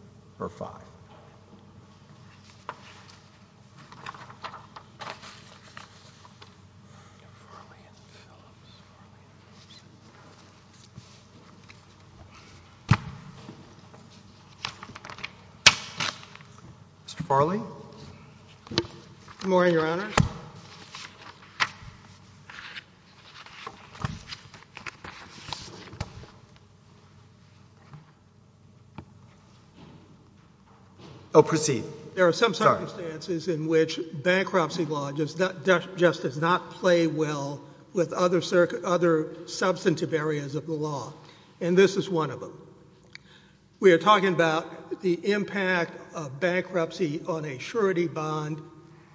Mr. Farley, Good morning, Your Honors. There are some circumstances in which bankruptcy law just does not play well with other substantive areas of the law, and this is one of them. We are talking about the impact of bankruptcy on a surety bond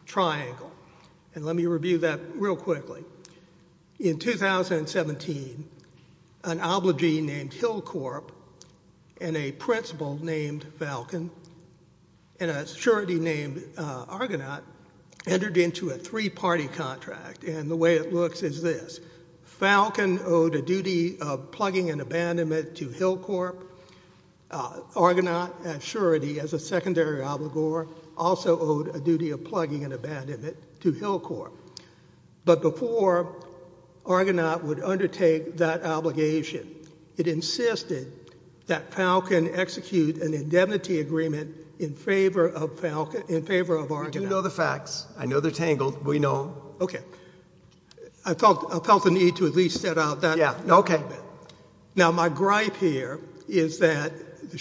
triangle, and let me review that real quickly. In 2017, an obligee named Hillcorp and a principal named Falcon and a surety named Argonaut entered into a three-party contract, and the way it looks is this. Hillcorp, Argonaut, and surety as a secondary obligor also owed a duty of plugging and abandonment to Hillcorp. But before Argonaut would undertake that obligation, it insisted that Falcon execute an indemnity agreement in favor of Argonaut. You do know the facts. I know they're tangled. We know. Okay. I felt the need to at least set out that. Yeah. Okay. Now, my gripe here is that the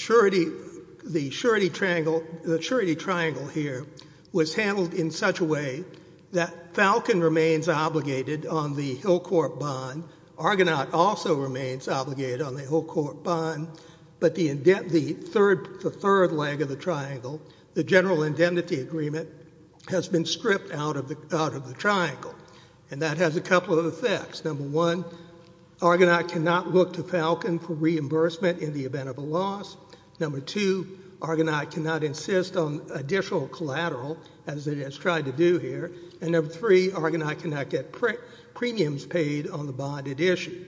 surety triangle here was handled in such a way that Falcon remains obligated on the Hillcorp bond. Argonaut also remains obligated on the Hillcorp bond, but the third leg of the triangle, the general indemnity agreement, has been stripped out of the triangle, and that has a couple of effects. Number one, Argonaut cannot look to Falcon for reimbursement in the event of a loss. Number two, Argonaut cannot insist on additional collateral, as it has tried to do here. And number three, Argonaut cannot get premiums paid on the bonded issue.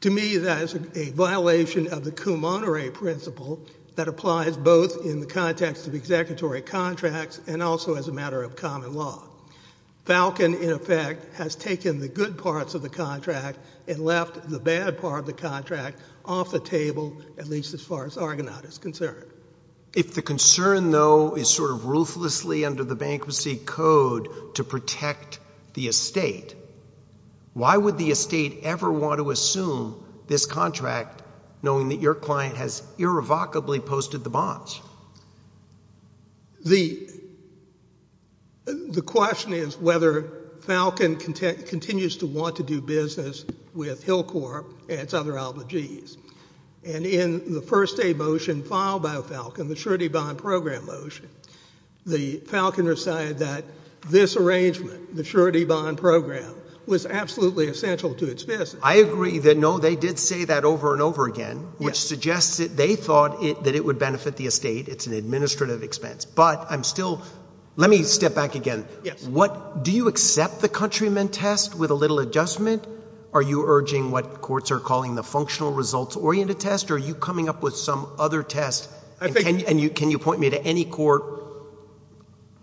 To me, that is a violation of the cum honore principle that applies both in the context of executory contracts and also as a matter of common law. Falcon, in effect, has taken the good parts of the contract and left the bad part of the contract off the table, at least as far as Argonaut is concerned. If the concern, though, is sort of ruthlessly under the bankruptcy code to protect the estate, why would the estate ever want to assume this contract, knowing that your client has irrevocably posted the bonds? The question is whether Falcon continues to want to do business with Hillcorp and its other alleges. And in the first day motion filed by Falcon, the surety bond program motion, the Falcon decided that this arrangement, the surety bond program, was absolutely essential to its business. I agree that, no, they did say that over and over again, which suggests that they thought that it would benefit the estate, it's an administrative expense. But I'm still, let me step back again. Do you accept the countrymen test with a little adjustment? Are you urging what courts are calling the functional results-oriented test, or are you coming up with some other test, and can you point me to any court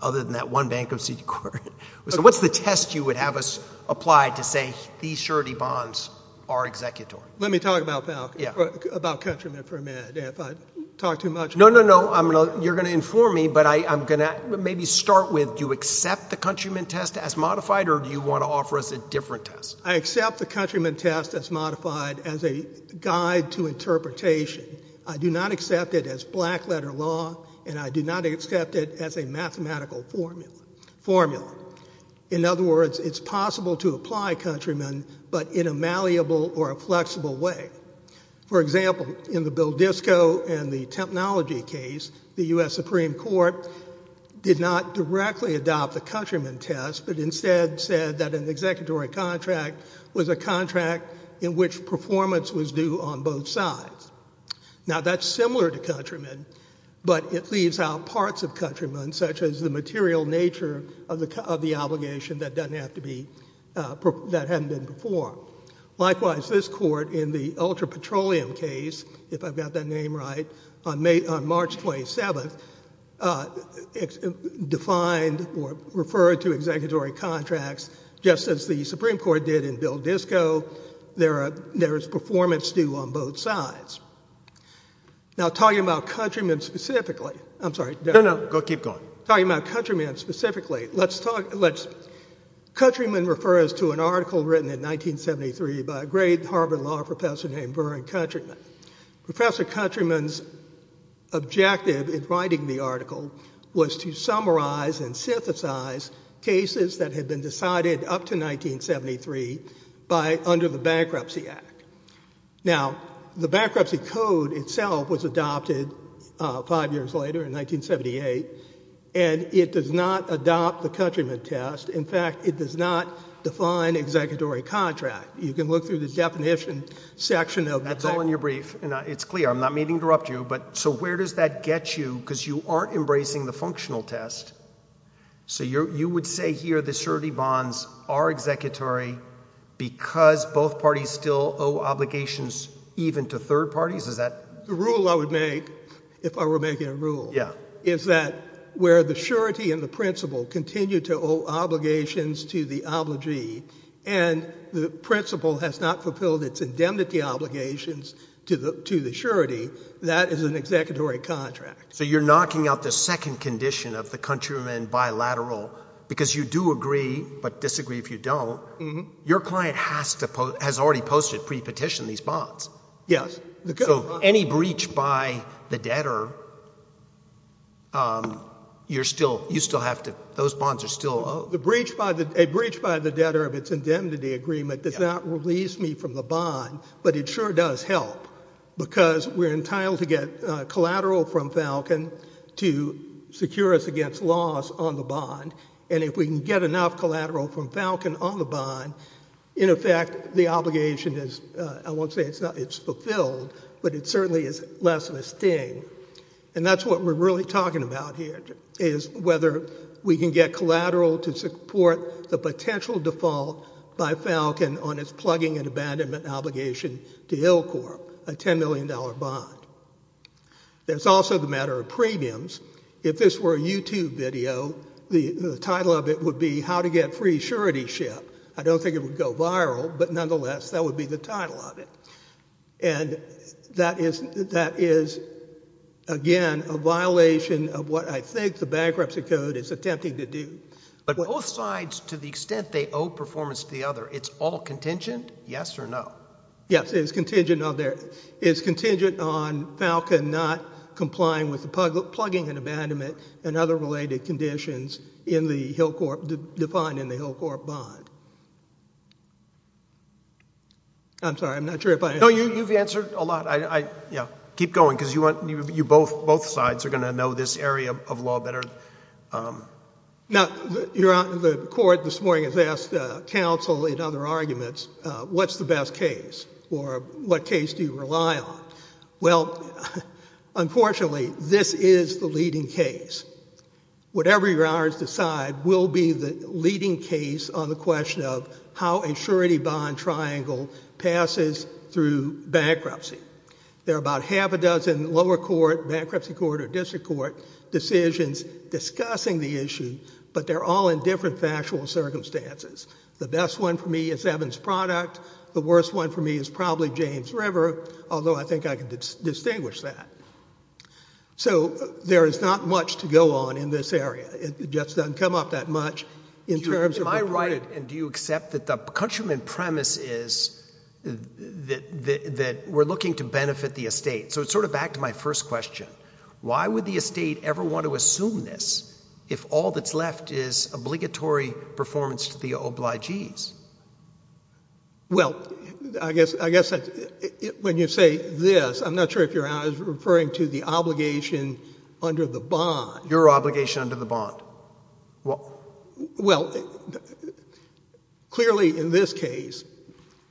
other than that one bankruptcy court? So what's the test you would have us apply to say these surety bonds are executory? Let me talk about that, about countrymen for a minute, if I talk too much. No, no, no. You're going to inform me, but I'm going to maybe start with, do you accept the countrymen test as modified, or do you want to offer us a different test? I accept the countrymen test as modified as a guide to interpretation. I do not accept it as black letter law, and I do not accept it as a mathematical formula. In other words, it's possible to apply countrymen, but in a malleable or a flexible way. For example, in the Bill Disko and the Tempnology case, the U.S. Supreme Court did not directly adopt the countrymen test, but instead said that an executory contract was a contract in which performance was due on both sides. Now that's similar to countrymen, but it leaves out parts of countrymen, such as the material nature of the obligation that doesn't have to be, that hadn't been performed. Likewise, this Court in the Ultra Petroleum case, if I've got that name right, on March 27th, defined or referred to executory contracts, just as the Supreme Court did in Bill Disko. There is performance due on both sides. Now talking about countrymen specifically, I'm sorry. No, no. Keep going. Talking about countrymen specifically, let's talk, let's, countrymen refers to an article written in 1973 by a great Harvard law professor named Burr and Countryman. Professor Countryman's objective in writing the article was to summarize and synthesize cases that had been decided up to 1973 by, under the Bankruptcy Act. Now, the bankruptcy code itself was adopted five years later, in 1978, and it does not adopt the countryman test. In fact, it does not define executory contract. You can look through the definition section of that. That's all in your brief. And it's clear. I'm not meaning to interrupt you, but so where does that get you? Because you aren't embracing the functional test. So you would say here the surety bonds are executory because both parties still owe obligations even to third parties? Is that? The rule I would make, if I were making a rule, is that where the surety and the principle continue to owe obligations to the obligee, and the principle has not fulfilled its indemnity obligations to the surety, that is an executory contract. So you're knocking out the second condition of the countryman bilateral, because you do agree but disagree if you don't. Your client has already posted pre-petition these bonds. Yes. So any breach by the debtor, you're still, you still have to, those bonds are still owed. The breach by the, a breach by the debtor of its indemnity agreement does not release me from the bond, but it sure does help, because we're entitled to get collateral from Falcon to secure us against loss on the bond, and if we can get enough collateral from Falcon on the bond, in effect, the obligation is, I won't say it's fulfilled, but it certainly is less of a sting. And that's what we're really talking about here, is whether we can get collateral to support the potential default by Falcon on its plugging and abandonment obligation to ILCORP, a $10 million bond. There's also the matter of premiums. If this were a YouTube video, the title of it would be How to Get Free Surety Ship. I don't think it would go viral, but nonetheless, that would be the title of it. And that is, that is, again, a violation of what I think the bankruptcy code is attempting to do. But both sides, to the extent they owe performance to the other, it's all contingent, yes or no? Yes. It's contingent on their, it's contingent on Falcon not complying with the plugging and abandonment and other related conditions in the ILCORP, defined in the ILCORP bond. I'm sorry, I'm not sure if I, no, you, you've answered a lot. I, I, yeah. Keep going, because you want, you, you both, both sides are going to know this area of law better. But, now, you're on, the court this morning has asked counsel in other arguments, what's the best case? Or what case do you rely on? Well, unfortunately, this is the leading case. Whatever your honors decide will be the leading case on the question of how a surety bond triangle passes through bankruptcy. There are about half a dozen lower court, bankruptcy court or district court decisions discussing the issue, but they're all in different factual circumstances. The best one for me is Evans Product. The worst one for me is probably James River, although I think I can distinguish that. So there is not much to go on in this area. It just doesn't come up that much in terms of... Looking to benefit the estate. So it's sort of back to my first question. Why would the estate ever want to assume this if all that's left is obligatory performance to the obligees? Well, I guess, I guess when you say this, I'm not sure if you're referring to the obligation under the bond. Your obligation under the bond. Well, clearly in this case,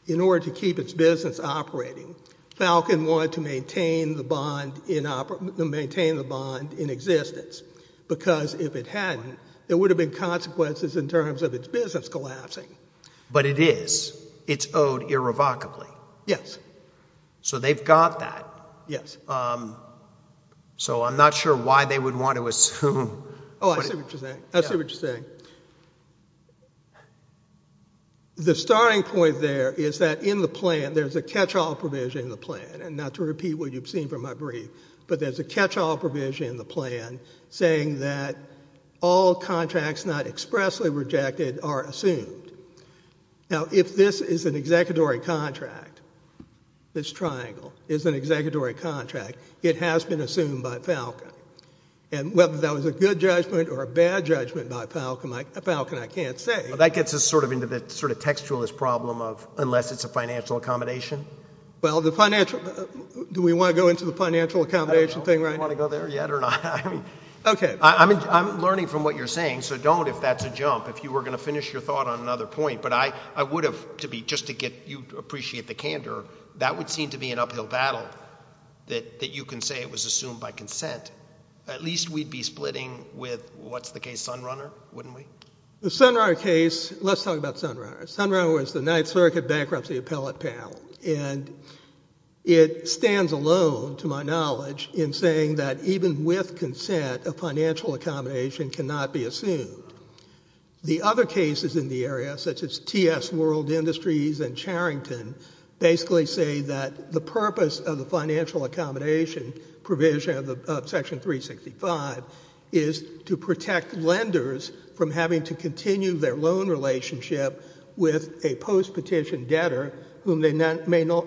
in order to keep its business operating, Falcon wanted to maintain the bond in existence because if it hadn't, there would have been consequences in terms of its business collapsing. But it is. It's owed irrevocably. Yes. So they've got that. Yes. So I'm not sure why they would want to assume... Oh, I see what you're saying. I see what you're saying. The starting point there is that in the plan, there's a catch-all provision in the plan, and not to repeat what you've seen from my brief, but there's a catch-all provision in the plan saying that all contracts not expressly rejected are assumed. Now if this is an executory contract, this triangle is an executory contract, it has been assumed by Falcon. And whether that was a good judgment or a bad judgment by Falcon, I can't say. Well, that gets us sort of into the sort of textualist problem of unless it's a financial accommodation. Well, the financial... do we want to go into the financial accommodation thing right now? I don't know if we want to go there yet or not. I mean... Okay. I'm learning from what you're saying, so don't if that's a jump. If you were going to finish your thought on another point, but I would have, just to get you to appreciate the candor, that would seem to be an uphill battle that you can say it was assumed by consent. At least we'd be splitting with, what's the case, Sunrunner, wouldn't we? The Sunrunner case... let's talk about Sunrunner. Sunrunner was the Ninth Circuit Bankruptcy Appellate Panel, and it stands alone, to my knowledge, in saying that even with consent, a financial accommodation cannot be assumed. The other cases in the area, such as T.S. World Industries and Charrington, basically say that the purpose of the financial accommodation provision of Section 365 is to protect lenders from having to continue their loan relationship with a post-petition debtor whom they no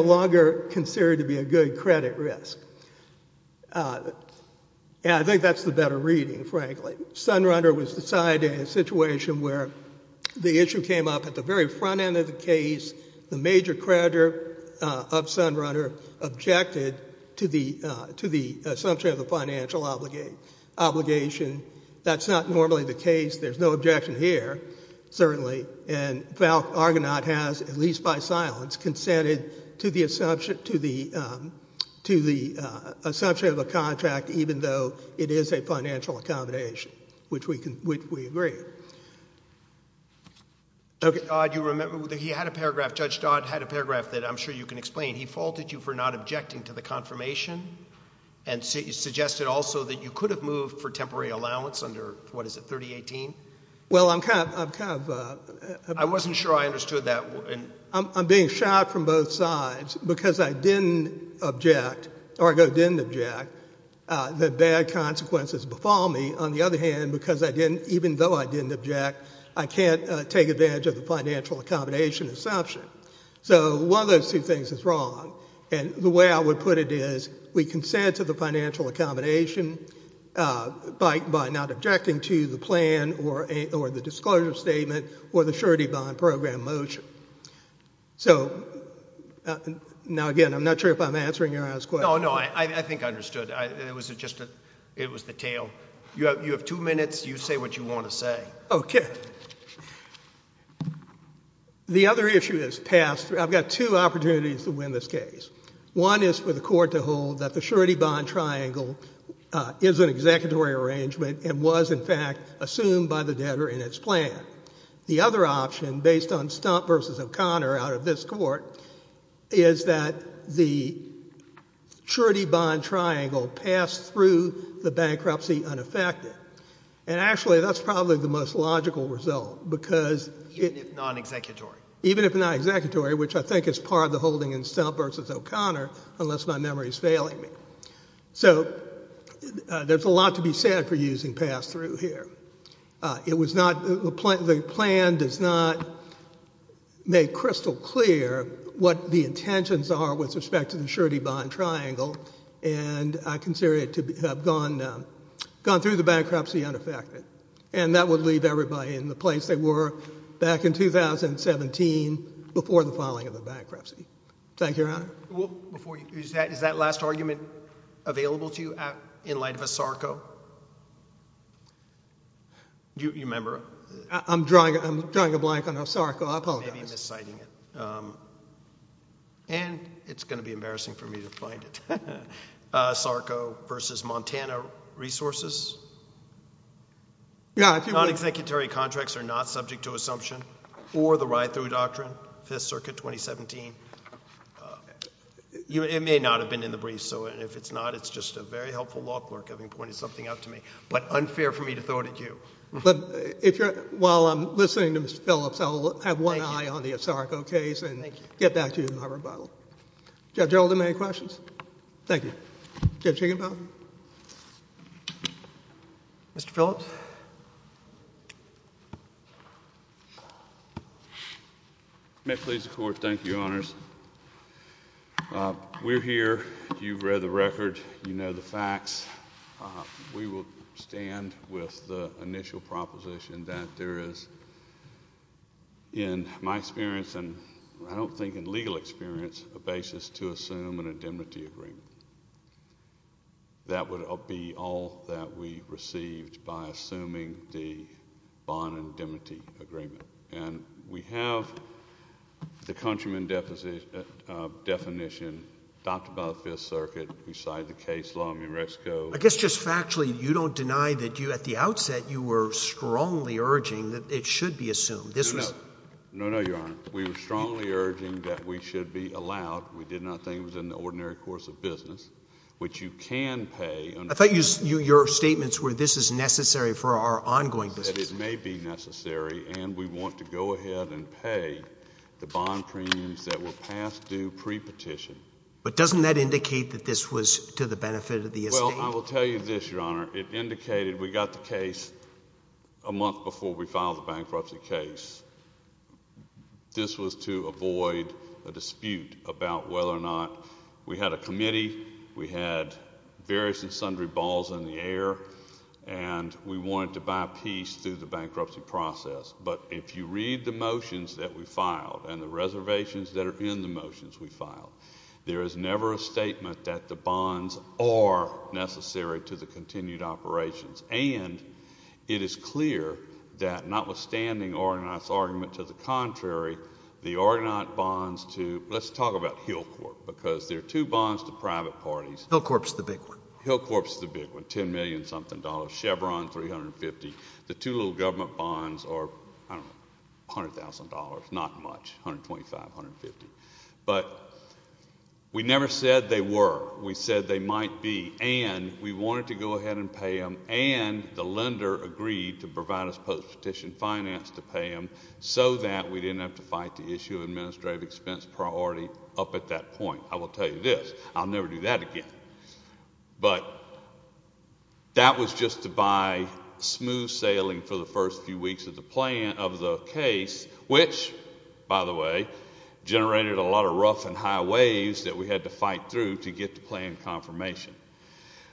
longer consider to be a good credit risk. I think that's the better reading, frankly. Sunrunner was decided in a situation where the issue came up at the very front end of the case. The major creditor of Sunrunner objected to the assumption of a financial obligation. That's not normally the case. There's no objection here, certainly, and Argonaut has, at least by silence, consented to the assumption of a contract, even though it is a financial accommodation, which we agree. Okay. Dodd, do you remember, he had a paragraph, Judge Dodd had a paragraph that I'm sure you can explain. He faulted you for not objecting to the confirmation and suggested also that you could have moved for temporary allowance under, what is it, 3018? Well, I'm kind of... I wasn't sure I understood that. I'm being shot from both sides because I didn't object, Argo didn't object, that bad consequences befall me. On the other hand, because I didn't, even though I didn't object, I can't take advantage of the financial accommodation assumption. So one of those two things is wrong, and the way I would put it is we consent to the financial accommodation by not objecting to the plan or the disclosure statement or the surety bond program motion. So now again, I'm not sure if I'm answering your last question. No, no. I think I understood. It was just a, it was the tail. You have two minutes. You say what you want to say. Okay. The other issue is passed. I've got two opportunities to win this case. One is for the Court to hold that the surety bond triangle is an executory arrangement and was, in fact, assumed by the debtor in its plan. The other option, based on Stump v. O'Connor out of this Court, is that the surety bond triangle passed through the bankruptcy unaffected. And actually, that's probably the most logical result, because it— Even if non-executory. Even if non-executory, which I think is part of the holding in Stump v. O'Connor, unless my memory is failing me. So there's a lot to be said for using passed through here. It was not, the plan does not make crystal clear what the intentions are with respect to the surety bond triangle, and I consider it to have gone through the bankruptcy unaffected. And that would leave everybody in the place they were back in 2017 before the filing of Thank you, Your Honor. Is that last argument available to you in light of ASARCO? Do you remember? I'm drawing a blank on ASARCO. I apologize. Maybe I'm mis-citing it. And it's going to be embarrassing for me to find it. ASARCO v. Montana Resources, non-executory contracts are not subject to assumption or the Ride-Thru Doctrine, 5th Circuit, 2017. It may not have been in the briefs, so if it's not, it's just a very helpful law clerk having pointed something out to me. But unfair for me to throw it at you. While I'm listening to Mr. Phillips, I'll have one eye on the ASARCO case and get back to you in my rebuttal. Judge Gerald, do you have any questions? Thank you. Judge Higginbotham? Mr. Phillips? May it please the Court, thank you, Your Honors. We're here. You've read the record. You know the facts. We will stand with the initial proposition that there is, in my experience and I don't think in legal experience, a basis to assume an indemnity agreement. That would be all that we received by assuming the bond indemnity agreement. And we have the countryman definition, adopted by the 5th Circuit, we cite the case law, I mean, Rex Coe... I guess just factually, you don't deny that you, at the outset, you were strongly urging that it should be assumed. This was... No, no. No, no, Your Honor. We were strongly urging that we should be allowed, we did not think it was in the ordinary course of business, which you can pay... I thought your statements were this is necessary for our ongoing business.... that it may be necessary and we want to go ahead and pay the bond premiums that were passed due pre-petition. But doesn't that indicate that this was to the benefit of the estate? Well, I will tell you this, Your Honor. It indicated we got the case a month before we filed the bankruptcy case. This was to avoid a dispute about whether or not we had a committee, we had various and sundry balls in the air, and we wanted to buy peace through the bankruptcy process. But if you read the motions that we filed and the reservations that are in the motions we filed, there is never a statement that the bonds are necessary to the continued operations. And it is clear that notwithstanding Orgonat's argument to the contrary, the Orgonat bonds to... let's talk about Hillcorp, because there are two bonds to private parties. Hillcorp's the big one. Hillcorp's the big one, $10 million-something, Chevron $350,000. The two little government bonds are, I don't know, $100,000, not much, $125,000, $150,000. But we never said they were. We said they might be, and we wanted to go ahead and pay them, and the lender agreed to provide us post-petition finance to pay them so that we didn't have to fight to issue administrative expense priority up at that point. I will tell you this, I'll never do that again. But that was just to buy smooth sailing for the first few weeks of the case, which, by the way, generated a lot of rough and high waves that we had to fight through to get to planned confirmation.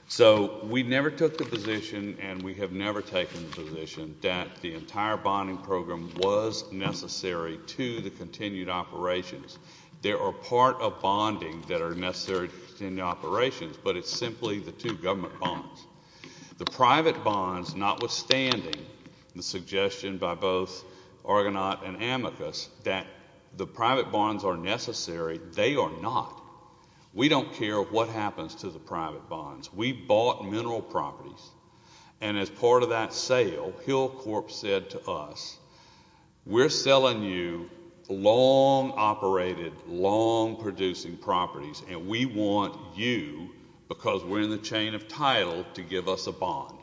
So we never took the position, and we have never taken the position, that the entire bonding program was necessary to the continued operations. There are part of bonding that are necessary in the operations, but it's simply the two government bonds. The private bonds, notwithstanding the suggestion by both Orgonat and Amicus that the private bonds are necessary, they are not. We don't care what happens to the private bonds. We bought mineral properties, and as part of that sale, Hill Corp. said to us, we're selling you long-operated, long-producing properties, and we want you, because we're in the chain of title, to give us a bond.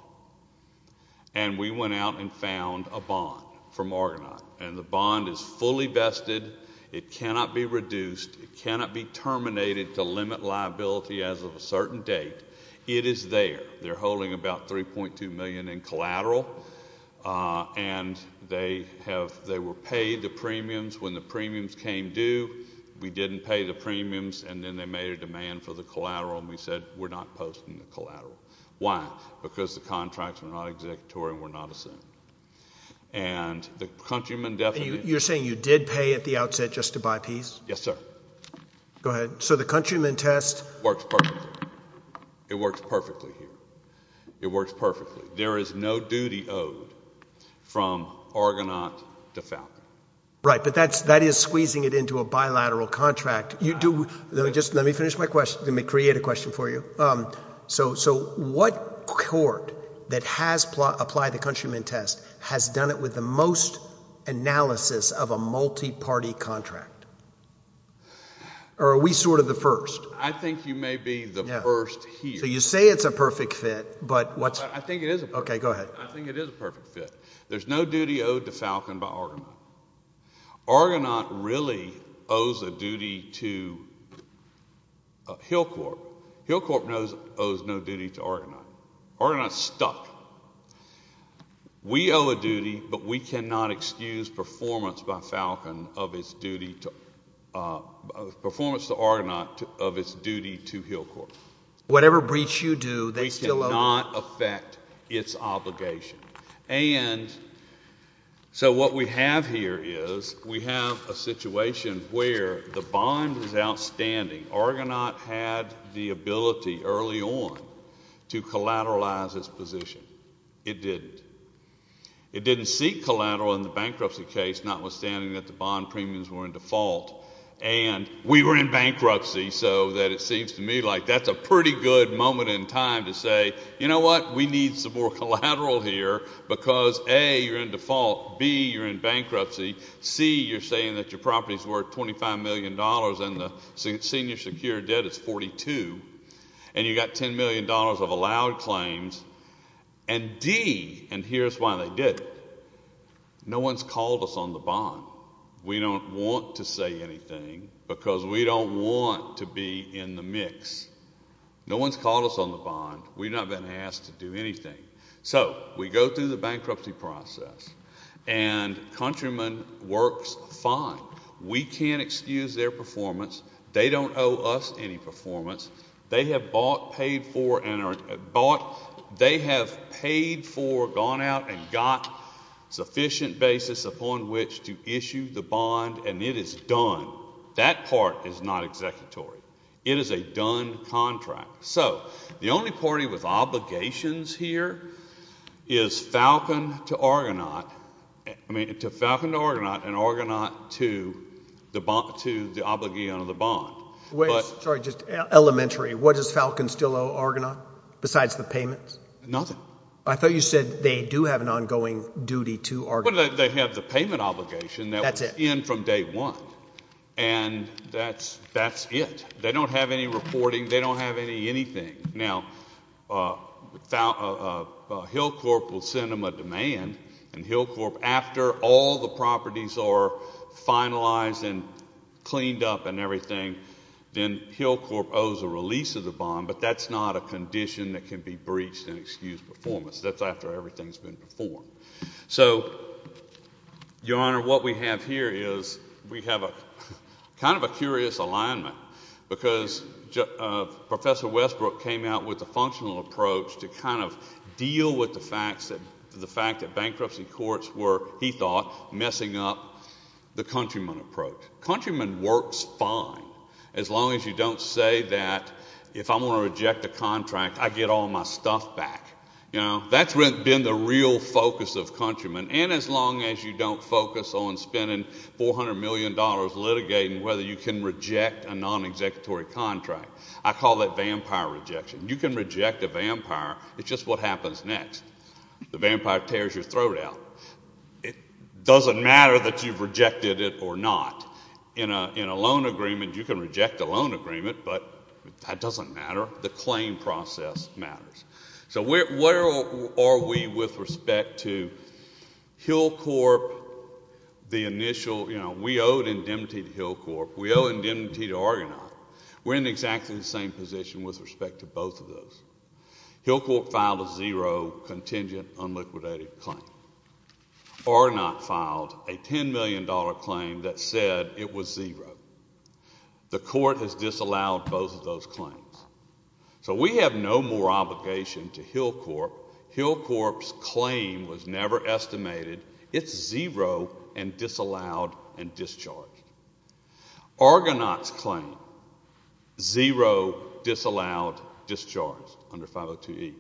And we went out and found a bond from Orgonat, and the bond is fully vested. It cannot be reduced. It cannot be terminated to limit liability as of a certain date. It is there. They're holding about $3.2 million in collateral, and they were paid the premiums. When the premiums came due, we didn't pay the premiums, and then they made a demand for the collateral, and we said, we're not posting the collateral. Why? Because the contracts were not executory and were not assumed. And the countrymen definitely— Can I interrupt you at the outset just to buy peace? Yes, sir. Go ahead. So, the countrymen test— Works perfectly. It works perfectly here. It works perfectly. There is no duty owed from Orgonat to Falcon. Right, but that is squeezing it into a bilateral contract. Let me finish my question. Let me create a question for you. So, what court that has applied the countrymen test has done it with the most analysis of a multi-party contract, or are we sort of the first? I think you may be the first here. So, you say it's a perfect fit, but what's— I think it is a perfect fit. Okay, go ahead. I think it is a perfect fit. There's no duty owed to Falcon by Orgonat. Orgonat really owes a duty to Hillcorp. Hillcorp owes no duty to Orgonat. Orgonat's stuck. We owe a duty, but we cannot excuse performance by Falcon of its duty to—performance to Orgonat of its duty to Hillcorp. Whatever breach you do, they still owe— We cannot affect its obligation. And so, what we have here is we have a situation where the bond is outstanding. Orgonat had the ability early on to collateralize its position. It didn't. It didn't seek collateral in the bankruptcy case, notwithstanding that the bond premiums were in default, and we were in bankruptcy, so that it seems to me like that's a pretty good moment in time to say, you know what? We need some more collateral here because, A, you're in default, B, you're in bankruptcy, C, you're saying that your property's worth $25 million and the senior secure debt is $42 million, and you've got $10 million of allowed claims, and D, and here's why they did it. No one's called us on the bond. We don't want to say anything because we don't want to be in the mix. No one's called us on the bond. We've not been asked to do anything. So, we go through the bankruptcy process, and Countryman works fine. We can't excuse their performance. They don't owe us any performance. They have bought, paid for, gone out and got sufficient basis upon which to issue the bond, and it is done. That part is not executory. It is a done contract. So, the only party with obligations here is Falcon to Argonaut. I mean, Falcon to Argonaut and Argonaut to the obligation of the bond. Wait, sorry, just elementary. What does Falcon still owe Argonaut besides the payments? Nothing. I thought you said they do have an ongoing duty to Argonaut. Well, they have the payment obligation that was in from day one, and that's it. They don't have any reporting. They don't have anything. Now, Hillcorp will send them a demand, and Hillcorp, after all the properties are finalized and cleaned up and everything, then Hillcorp owes a release of the bond, but that's not a condition that can be breached and excused performance. That's after everything's been performed. So, Your Honor, what we have here is we have kind of a curious alignment because Professor Westbrook came out with a functional approach to kind of deal with the fact that bankruptcy courts were, he thought, messing up the countryman approach. Countryman works fine as long as you don't say that if I'm going to reject a contract, I get all my stuff back. That's been the real focus of countrymen, and as long as you don't focus on spending $400 million litigating whether you can reject a non-executory contract. I call that vampire rejection. You can reject a vampire. It's just what happens next. The vampire tears your throat out. It doesn't matter that you've rejected it or not. In a loan agreement, you can reject a loan agreement, but that doesn't matter. The claim process matters. So where are we with respect to Hillcorp, the initial, you know, we owed indemnity to Hillcorp. We owe indemnity to Argonaut. We're in exactly the same position with respect to both of those. Hillcorp filed a zero contingent unliquidated claim. Argonaut filed a $10 million claim that said it was zero. The court has disallowed both of those claims. So we have no more obligation to Hillcorp. Hillcorp's claim was never estimated. It's zero and disallowed and discharged. Argonaut's claim, zero, disallowed, discharged under 502E.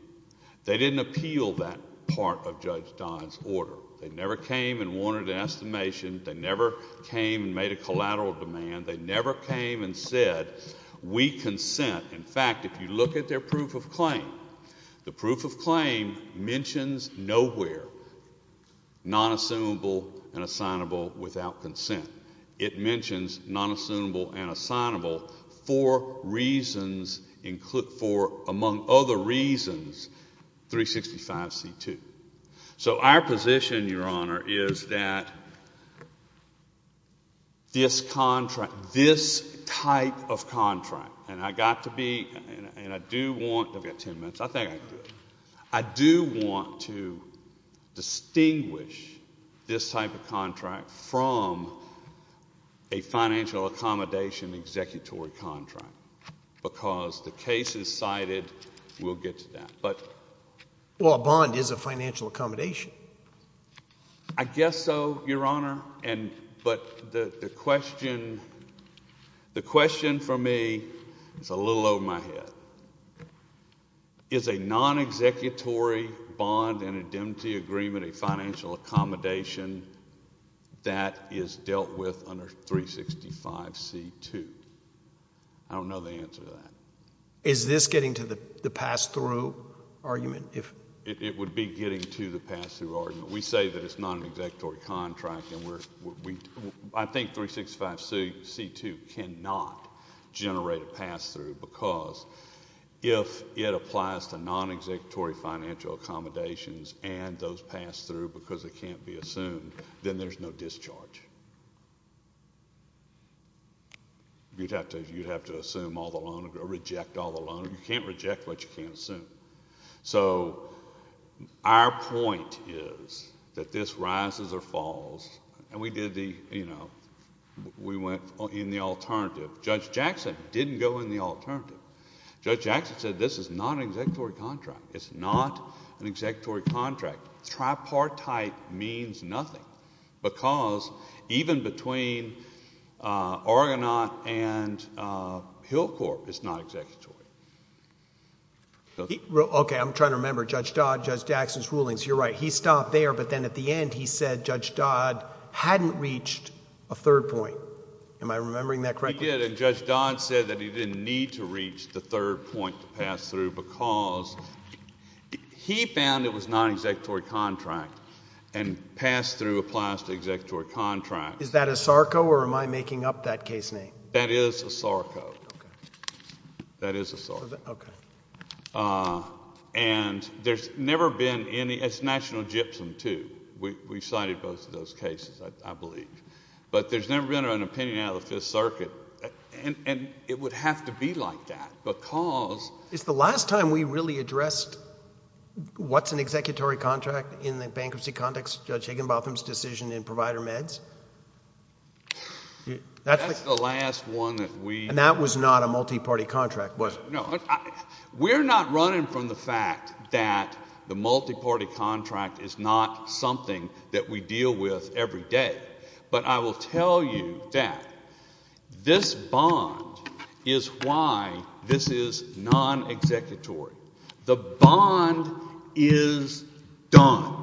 They didn't appeal that part of Judge Don's order. They never came and wanted an estimation. They never came and made a collateral demand. They never came and said, we consent. In fact, if you look at their proof of claim, the proof of claim mentions nowhere non-assumable and assignable without consent. It mentions non-assumable and assignable for reasons, among other reasons, 365C2. So our position, Your Honor, is that this contract, this type of contract, and I got to be and I do want, I've got ten minutes, I think I can do it. I do want to distinguish this type of contract from a financial accommodation executory contract because the case is cited. We'll get to that. Well, a bond is a financial accommodation. I guess so, Your Honor, but the question for me is a little over my head. Is a non-executory bond and indemnity agreement a financial accommodation that is dealt with under 365C2? I don't know the answer to that. Is this getting to the pass-through argument? It would be getting to the pass-through argument. We say that it's a non-executory contract, and I think 365C2 cannot generate a pass-through because if it applies to non-executory financial accommodations and those pass-through because it can't be assumed, then there's no discharge. You'd have to assume all the loan or reject all the loan. You can't reject what you can't assume. So our point is that this rises or falls, and we went in the alternative. Judge Jackson didn't go in the alternative. Judge Jackson said this is not an executory contract. It's not an executory contract. Tripartite means nothing because even between Argonaut and Hillcorp, it's not executory. Okay, I'm trying to remember Judge Dodd, Judge Jackson's rulings. You're right. He stopped there, but then at the end he said Judge Dodd hadn't reached a third point. Am I remembering that correctly? He did, and Judge Dodd said that he didn't need to reach the third point to pass through because he found it was non-executory contract and pass-through applies to executory contract. Is that a SARCO or am I making up that case name? That is a SARCO. Okay. That is a SARCO. Okay. And there's never been any—it's National Gypsum too. We cited both of those cases, I believe. But there's never been an opinion out of the Fifth Circuit, and it would have to be like that because— Is the last time we really addressed what's an executory contract in the bankruptcy context, Judge Higginbotham's decision in Provider Meds? That's the last one that we— And that was not a multiparty contract, was it? No. We're not running from the fact that the multiparty contract is not something that we deal with every day. But I will tell you that this bond is why this is non-executory. The bond is done.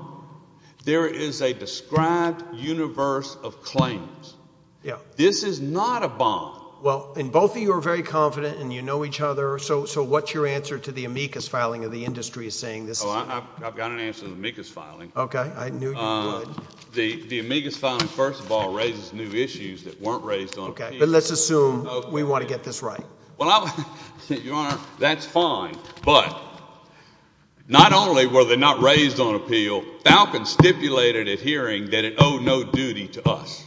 There is a described universe of claims. This is not a bond. Well, and both of you are very confident and you know each other, so what's your answer to the amicus filing of the industry saying this is— Oh, I've got an answer to the amicus filing. Okay. I knew you would. The amicus filing, first of all, raises new issues that weren't raised on appeal. Okay. But let's assume we want to get this right. Well, Your Honor, that's fine. But not only were they not raised on appeal, Falcon stipulated at hearing that it owed no duty to us.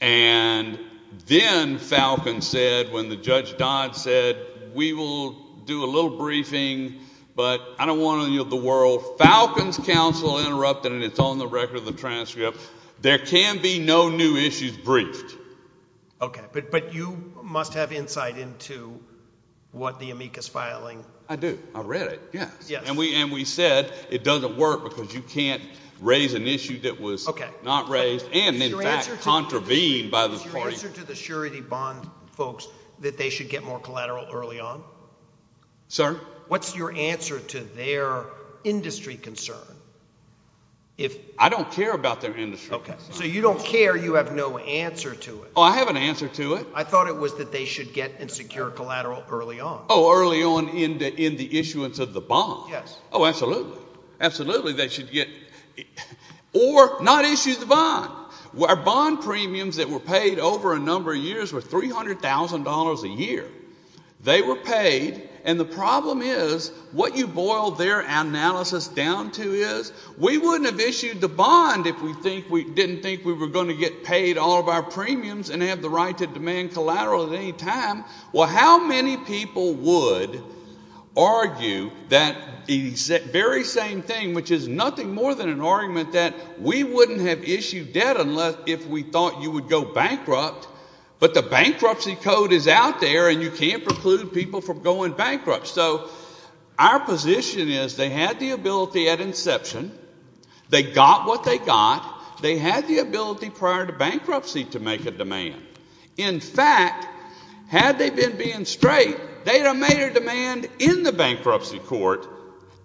And then Falcon said, when Judge Dodd said, we will do a little briefing, but I don't want to yield the world, so Falcon's counsel interrupted, and it's on the record in the transcript, there can be no new issues briefed. Okay. But you must have insight into what the amicus filing— I do. I read it, yes. And we said it doesn't work because you can't raise an issue that was not raised and, in fact, contravened by the party. Is your answer to the surety bond folks that they should get more collateral early on? Sir? What's your answer to their industry concern? I don't care about their industry concern. Okay. So you don't care, you have no answer to it. Oh, I have an answer to it. I thought it was that they should get and secure collateral early on. Oh, early on in the issuance of the bond? Yes. Oh, absolutely. Absolutely, they should get—or not issue the bond. Our bond premiums that were paid over a number of years were $300,000 a year. They were paid, and the problem is what you boil their analysis down to is we wouldn't have issued the bond if we didn't think we were going to get paid all of our premiums and have the right to demand collateral at any time. Well, how many people would argue that very same thing, which is nothing more than an argument that we wouldn't have issued debt unless if we thought you would go bankrupt, but the bankruptcy code is out there and you can't preclude people from going bankrupt. So our position is they had the ability at inception. They got what they got. They had the ability prior to bankruptcy to make a demand. In fact, had they been being straight, they would have made a demand in the bankruptcy court,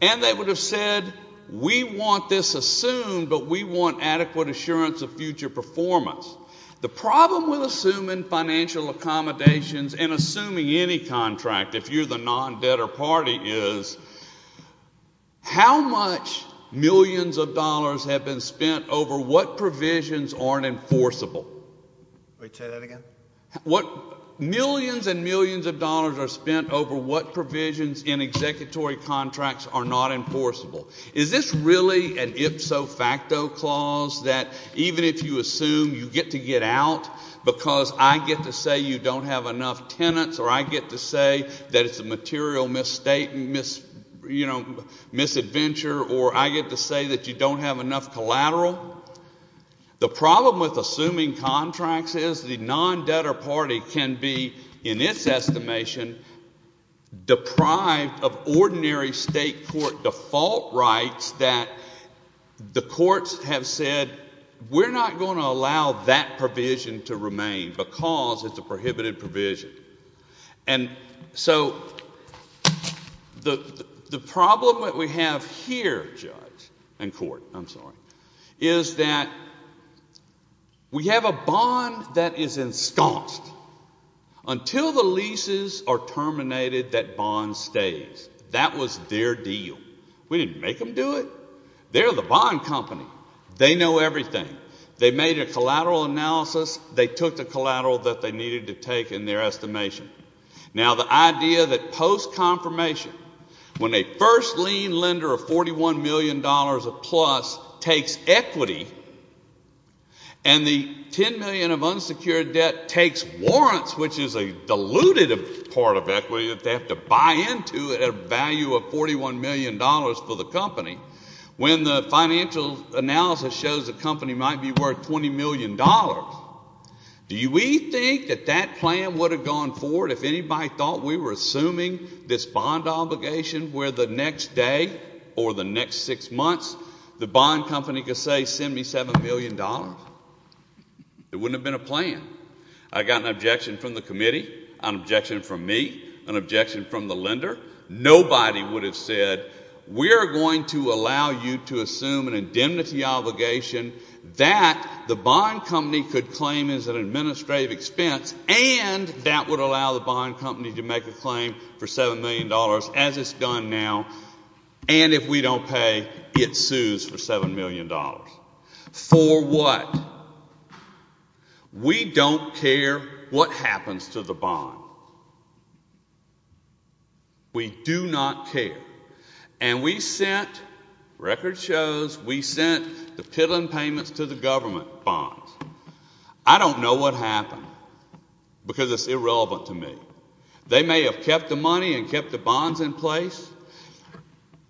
and they would have said we want this assumed, but we want adequate assurance of future performance. The problem with assuming financial accommodations and assuming any contract, if you're the non-debtor party, is how much millions of dollars have been spent over what provisions aren't enforceable. Will you say that again? Millions and millions of dollars are spent over what provisions in executory contracts are not enforceable. Is this really an ipso facto clause that even if you assume you get to get out because I get to say you don't have enough tenants or I get to say that it's a material misadventure or I get to say that you don't have enough collateral? The problem with assuming contracts is the non-debtor party can be, in its estimation, deprived of ordinary state court default rights that the courts have said, we're not going to allow that provision to remain because it's a prohibited provision. And so the problem that we have here, judge and court, I'm sorry, is that we have a bond that is ensconced. Until the leases are terminated, that bond stays. That was their deal. We didn't make them do it. They're the bond company. They know everything. They made a collateral analysis. They took the collateral that they needed to take in their estimation. Now the idea that post-confirmation, when a first lien lender of $41 million-plus takes equity and the $10 million of unsecured debt takes warrants, which is a diluted part of equity that they have to buy into at a value of $41 million for the company, when the financial analysis shows the company might be worth $20 million, do we think that that plan would have gone forward if anybody thought we were assuming this bond obligation where the next day or the next six months the bond company could say send me $7 million? It wouldn't have been a plan. I got an objection from the committee, an objection from me, an objection from the lender. Nobody would have said we're going to allow you to assume an indemnity obligation that the bond company could claim as an administrative expense and that would allow the bond company to make a claim for $7 million, as it's done now, and if we don't pay, it sues for $7 million. For what? We don't care what happens to the bond. We do not care. And we sent, record shows, we sent the pittling payments to the government bonds. I don't know what happened because it's irrelevant to me. They may have kept the money and kept the bonds in place.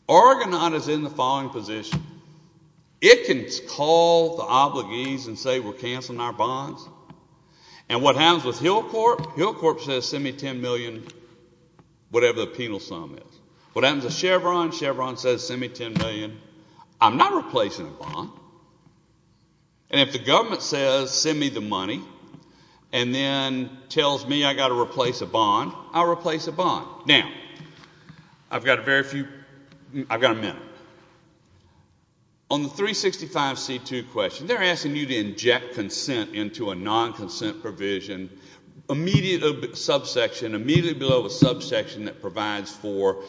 Argonaut is in the following position. It can call the obligees and say we're canceling our bonds, and what happens with Hillcorp, Hillcorp says send me $10 million, whatever the penal sum is. What happens to Chevron? Chevron says send me $10 million. I'm not replacing a bond. And if the government says send me the money and then tells me I've got to replace a bond, I'll replace a bond. Now, I've got a minute. On the 365C2 question, they're asking you to inject consent into a non-consent provision, immediately below a subsection that provides for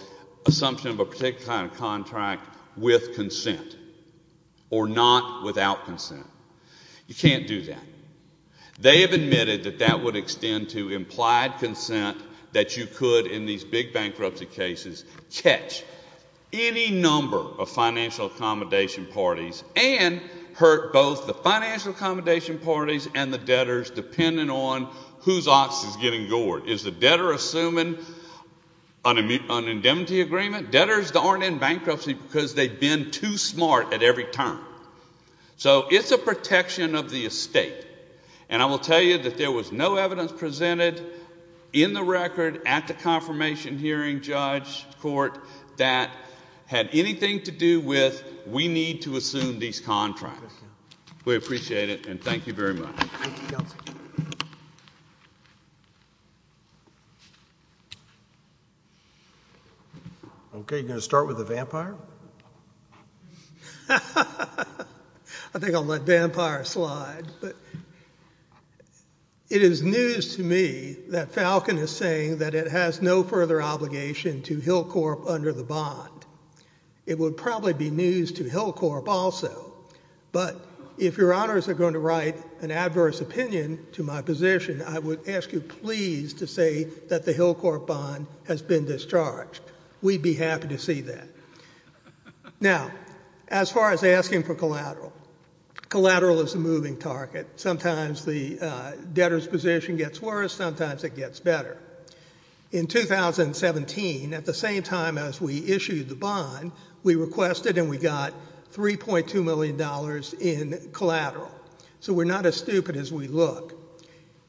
assumption of a particular kind of contract with consent or not without consent. You can't do that. They have admitted that that would extend to implied consent that you could, in these big bankruptcy cases, catch any number of financial accommodation parties and hurt both the financial accommodation parties and the debtors, depending on whose office is getting gored. Is the debtor assuming an indemnity agreement? Debtors aren't in bankruptcy because they've been too smart at every turn. So it's a protection of the estate. And I will tell you that there was no evidence presented in the record at the confirmation hearing, judge, court, that had anything to do with that we need to assume these contracts. We appreciate it, and thank you very much. Okay, you're going to start with the vampire? I think I'll let vampire slide. It is news to me that Falcon is saying that it has no further obligation to Hillcorp under the bond. It would probably be news to Hillcorp also. But if your honors are going to write an adverse opinion to my position, I would ask you please to say that the Hillcorp bond has been discharged. We'd be happy to see that. Now, as far as asking for collateral, collateral is a moving target. Sometimes the debtor's position gets worse. Sometimes it gets better. In 2017, at the same time as we issued the bond, we requested and we got $3.2 million in collateral. So we're not as stupid as we look.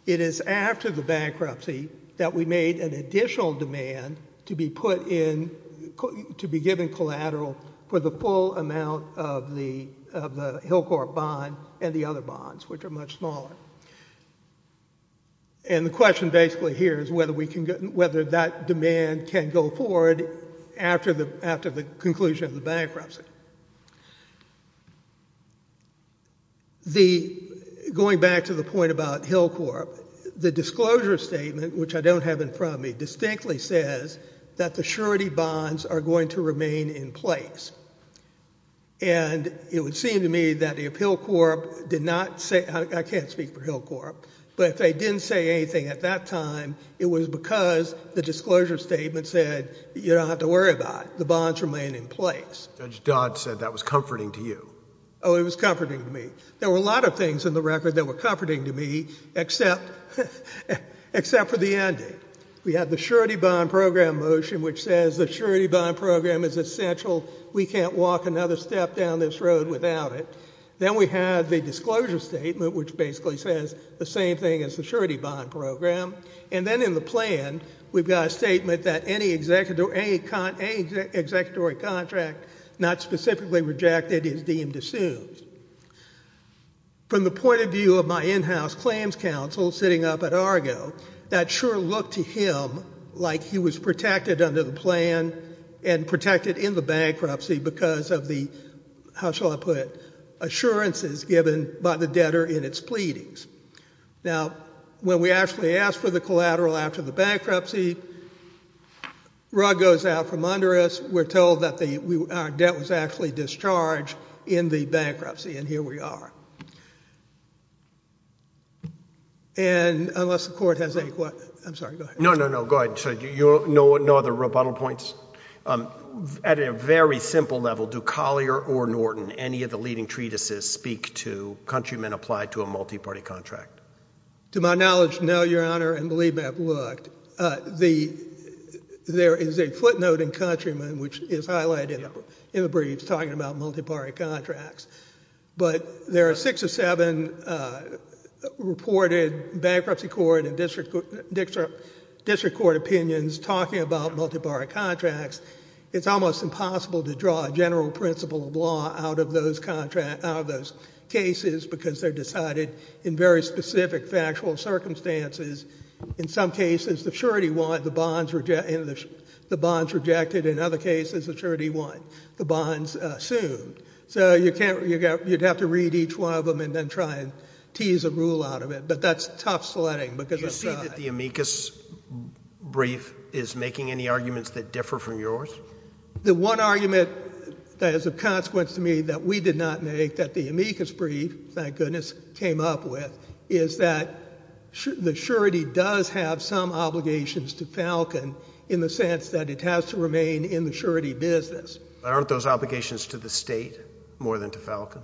It is after the bankruptcy that we made an additional demand to be put in, to be given collateral for the full amount of the Hillcorp bond and the other bonds, which are much smaller. And the question basically here is whether that demand can go forward after the conclusion of the bankruptcy. Going back to the point about Hillcorp, the disclosure statement, which I don't have in front of me, distinctly says that the surety bonds are going to remain in place. And it would seem to me that if Hillcorp did not say, I can't speak for Hillcorp, but if they didn't say anything at that time, it was because the disclosure statement said, you don't have to worry about it, the bonds remain in place. Judge Dodd said that was comforting to you. Oh, it was comforting to me. There were a lot of things in the record that were comforting to me, except for the ending. We had the surety bond program motion, which says the surety bond program is essential. We can't walk another step down this road without it. Then we had the disclosure statement, which basically says the same thing as the surety bond program. And then in the plan, we've got a statement that any executory contract not specifically rejected is deemed assumed. From the point of view of my in-house claims counsel sitting up at Argo, that sure looked to him like he was protected under the plan and protected in the bankruptcy because of the, how shall I put it, assurances given by the debtor in its pleadings. Now, when we actually asked for the collateral after the bankruptcy, rug goes out from under us, we're told that our debt was actually discharged in the bankruptcy, and here we are. And unless the court has any questions. I'm sorry, go ahead. No, no, no, go ahead. No other rebuttal points? At a very simple level, do Collier or Norton, any of the leading treatises speak to countrymen applied to a multiparty contract? To my knowledge, no, Your Honor, and believe me, I've looked. There is a footnote in Countryman, which is highlighted in the briefs, talking about multiparty contracts. But there are six or seven reported bankruptcy court and district court opinions talking about multiparty contracts. It's almost impossible to draw a general principle of law out of those cases because they're decided in very specific factual circumstances. In some cases, the surety won, the bonds rejected. In other cases, the surety won, the bonds assumed. So you'd have to read each one of them and then try and tease a rule out of it. But that's tough sledding. Do you see that the amicus brief is making any arguments that differ from yours? The one argument that is of consequence to me that we did not make, that the amicus brief, thank goodness, came up with, is that the surety does have some obligations to Falcon in the sense that it has to remain in the surety business. Aren't those obligations to the state more than to Falcon?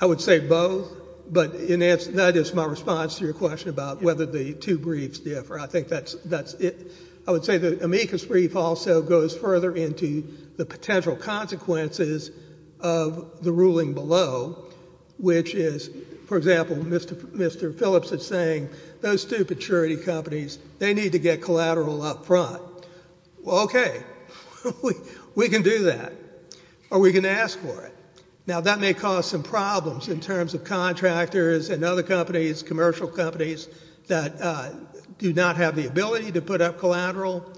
I would say both. But that is my response to your question about whether the two briefs differ. I think that's it. I would say the amicus brief also goes further into the potential consequences of the ruling below, which is, for example, Mr. Phillips is saying, those two surety companies, they need to get collateral up front. Well, okay. We can do that. Or we can ask for it. Now, that may cause some problems in terms of contractors and other companies, commercial companies, that do not have the ability to put up collateral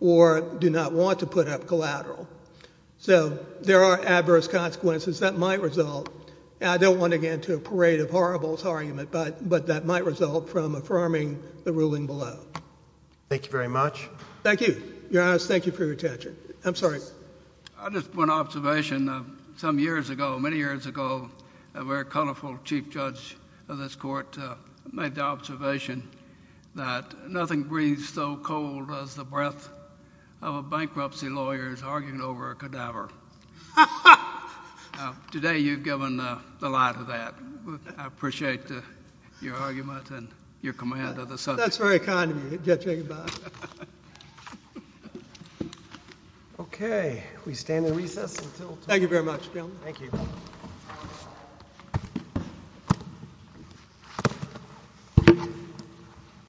or do not want to put up collateral. So there are adverse consequences that might result. I don't want to get into a parade of horribles argument, but that might result from affirming the ruling below. Thank you very much. Thank you. Your Honor, thank you for your attention. I'm sorry. I just want an observation. Some years ago, many years ago, a very colorful chief judge of this court made the observation that nothing breathes so cold as the breath of a bankruptcy lawyer arguing over a cadaver. Ha, ha! Today you've given the light of that. I appreciate your argument and your command of the subject. That's very kind of you. Okay. We stand in recess until tomorrow. Thank you very much, gentlemen. Thank you.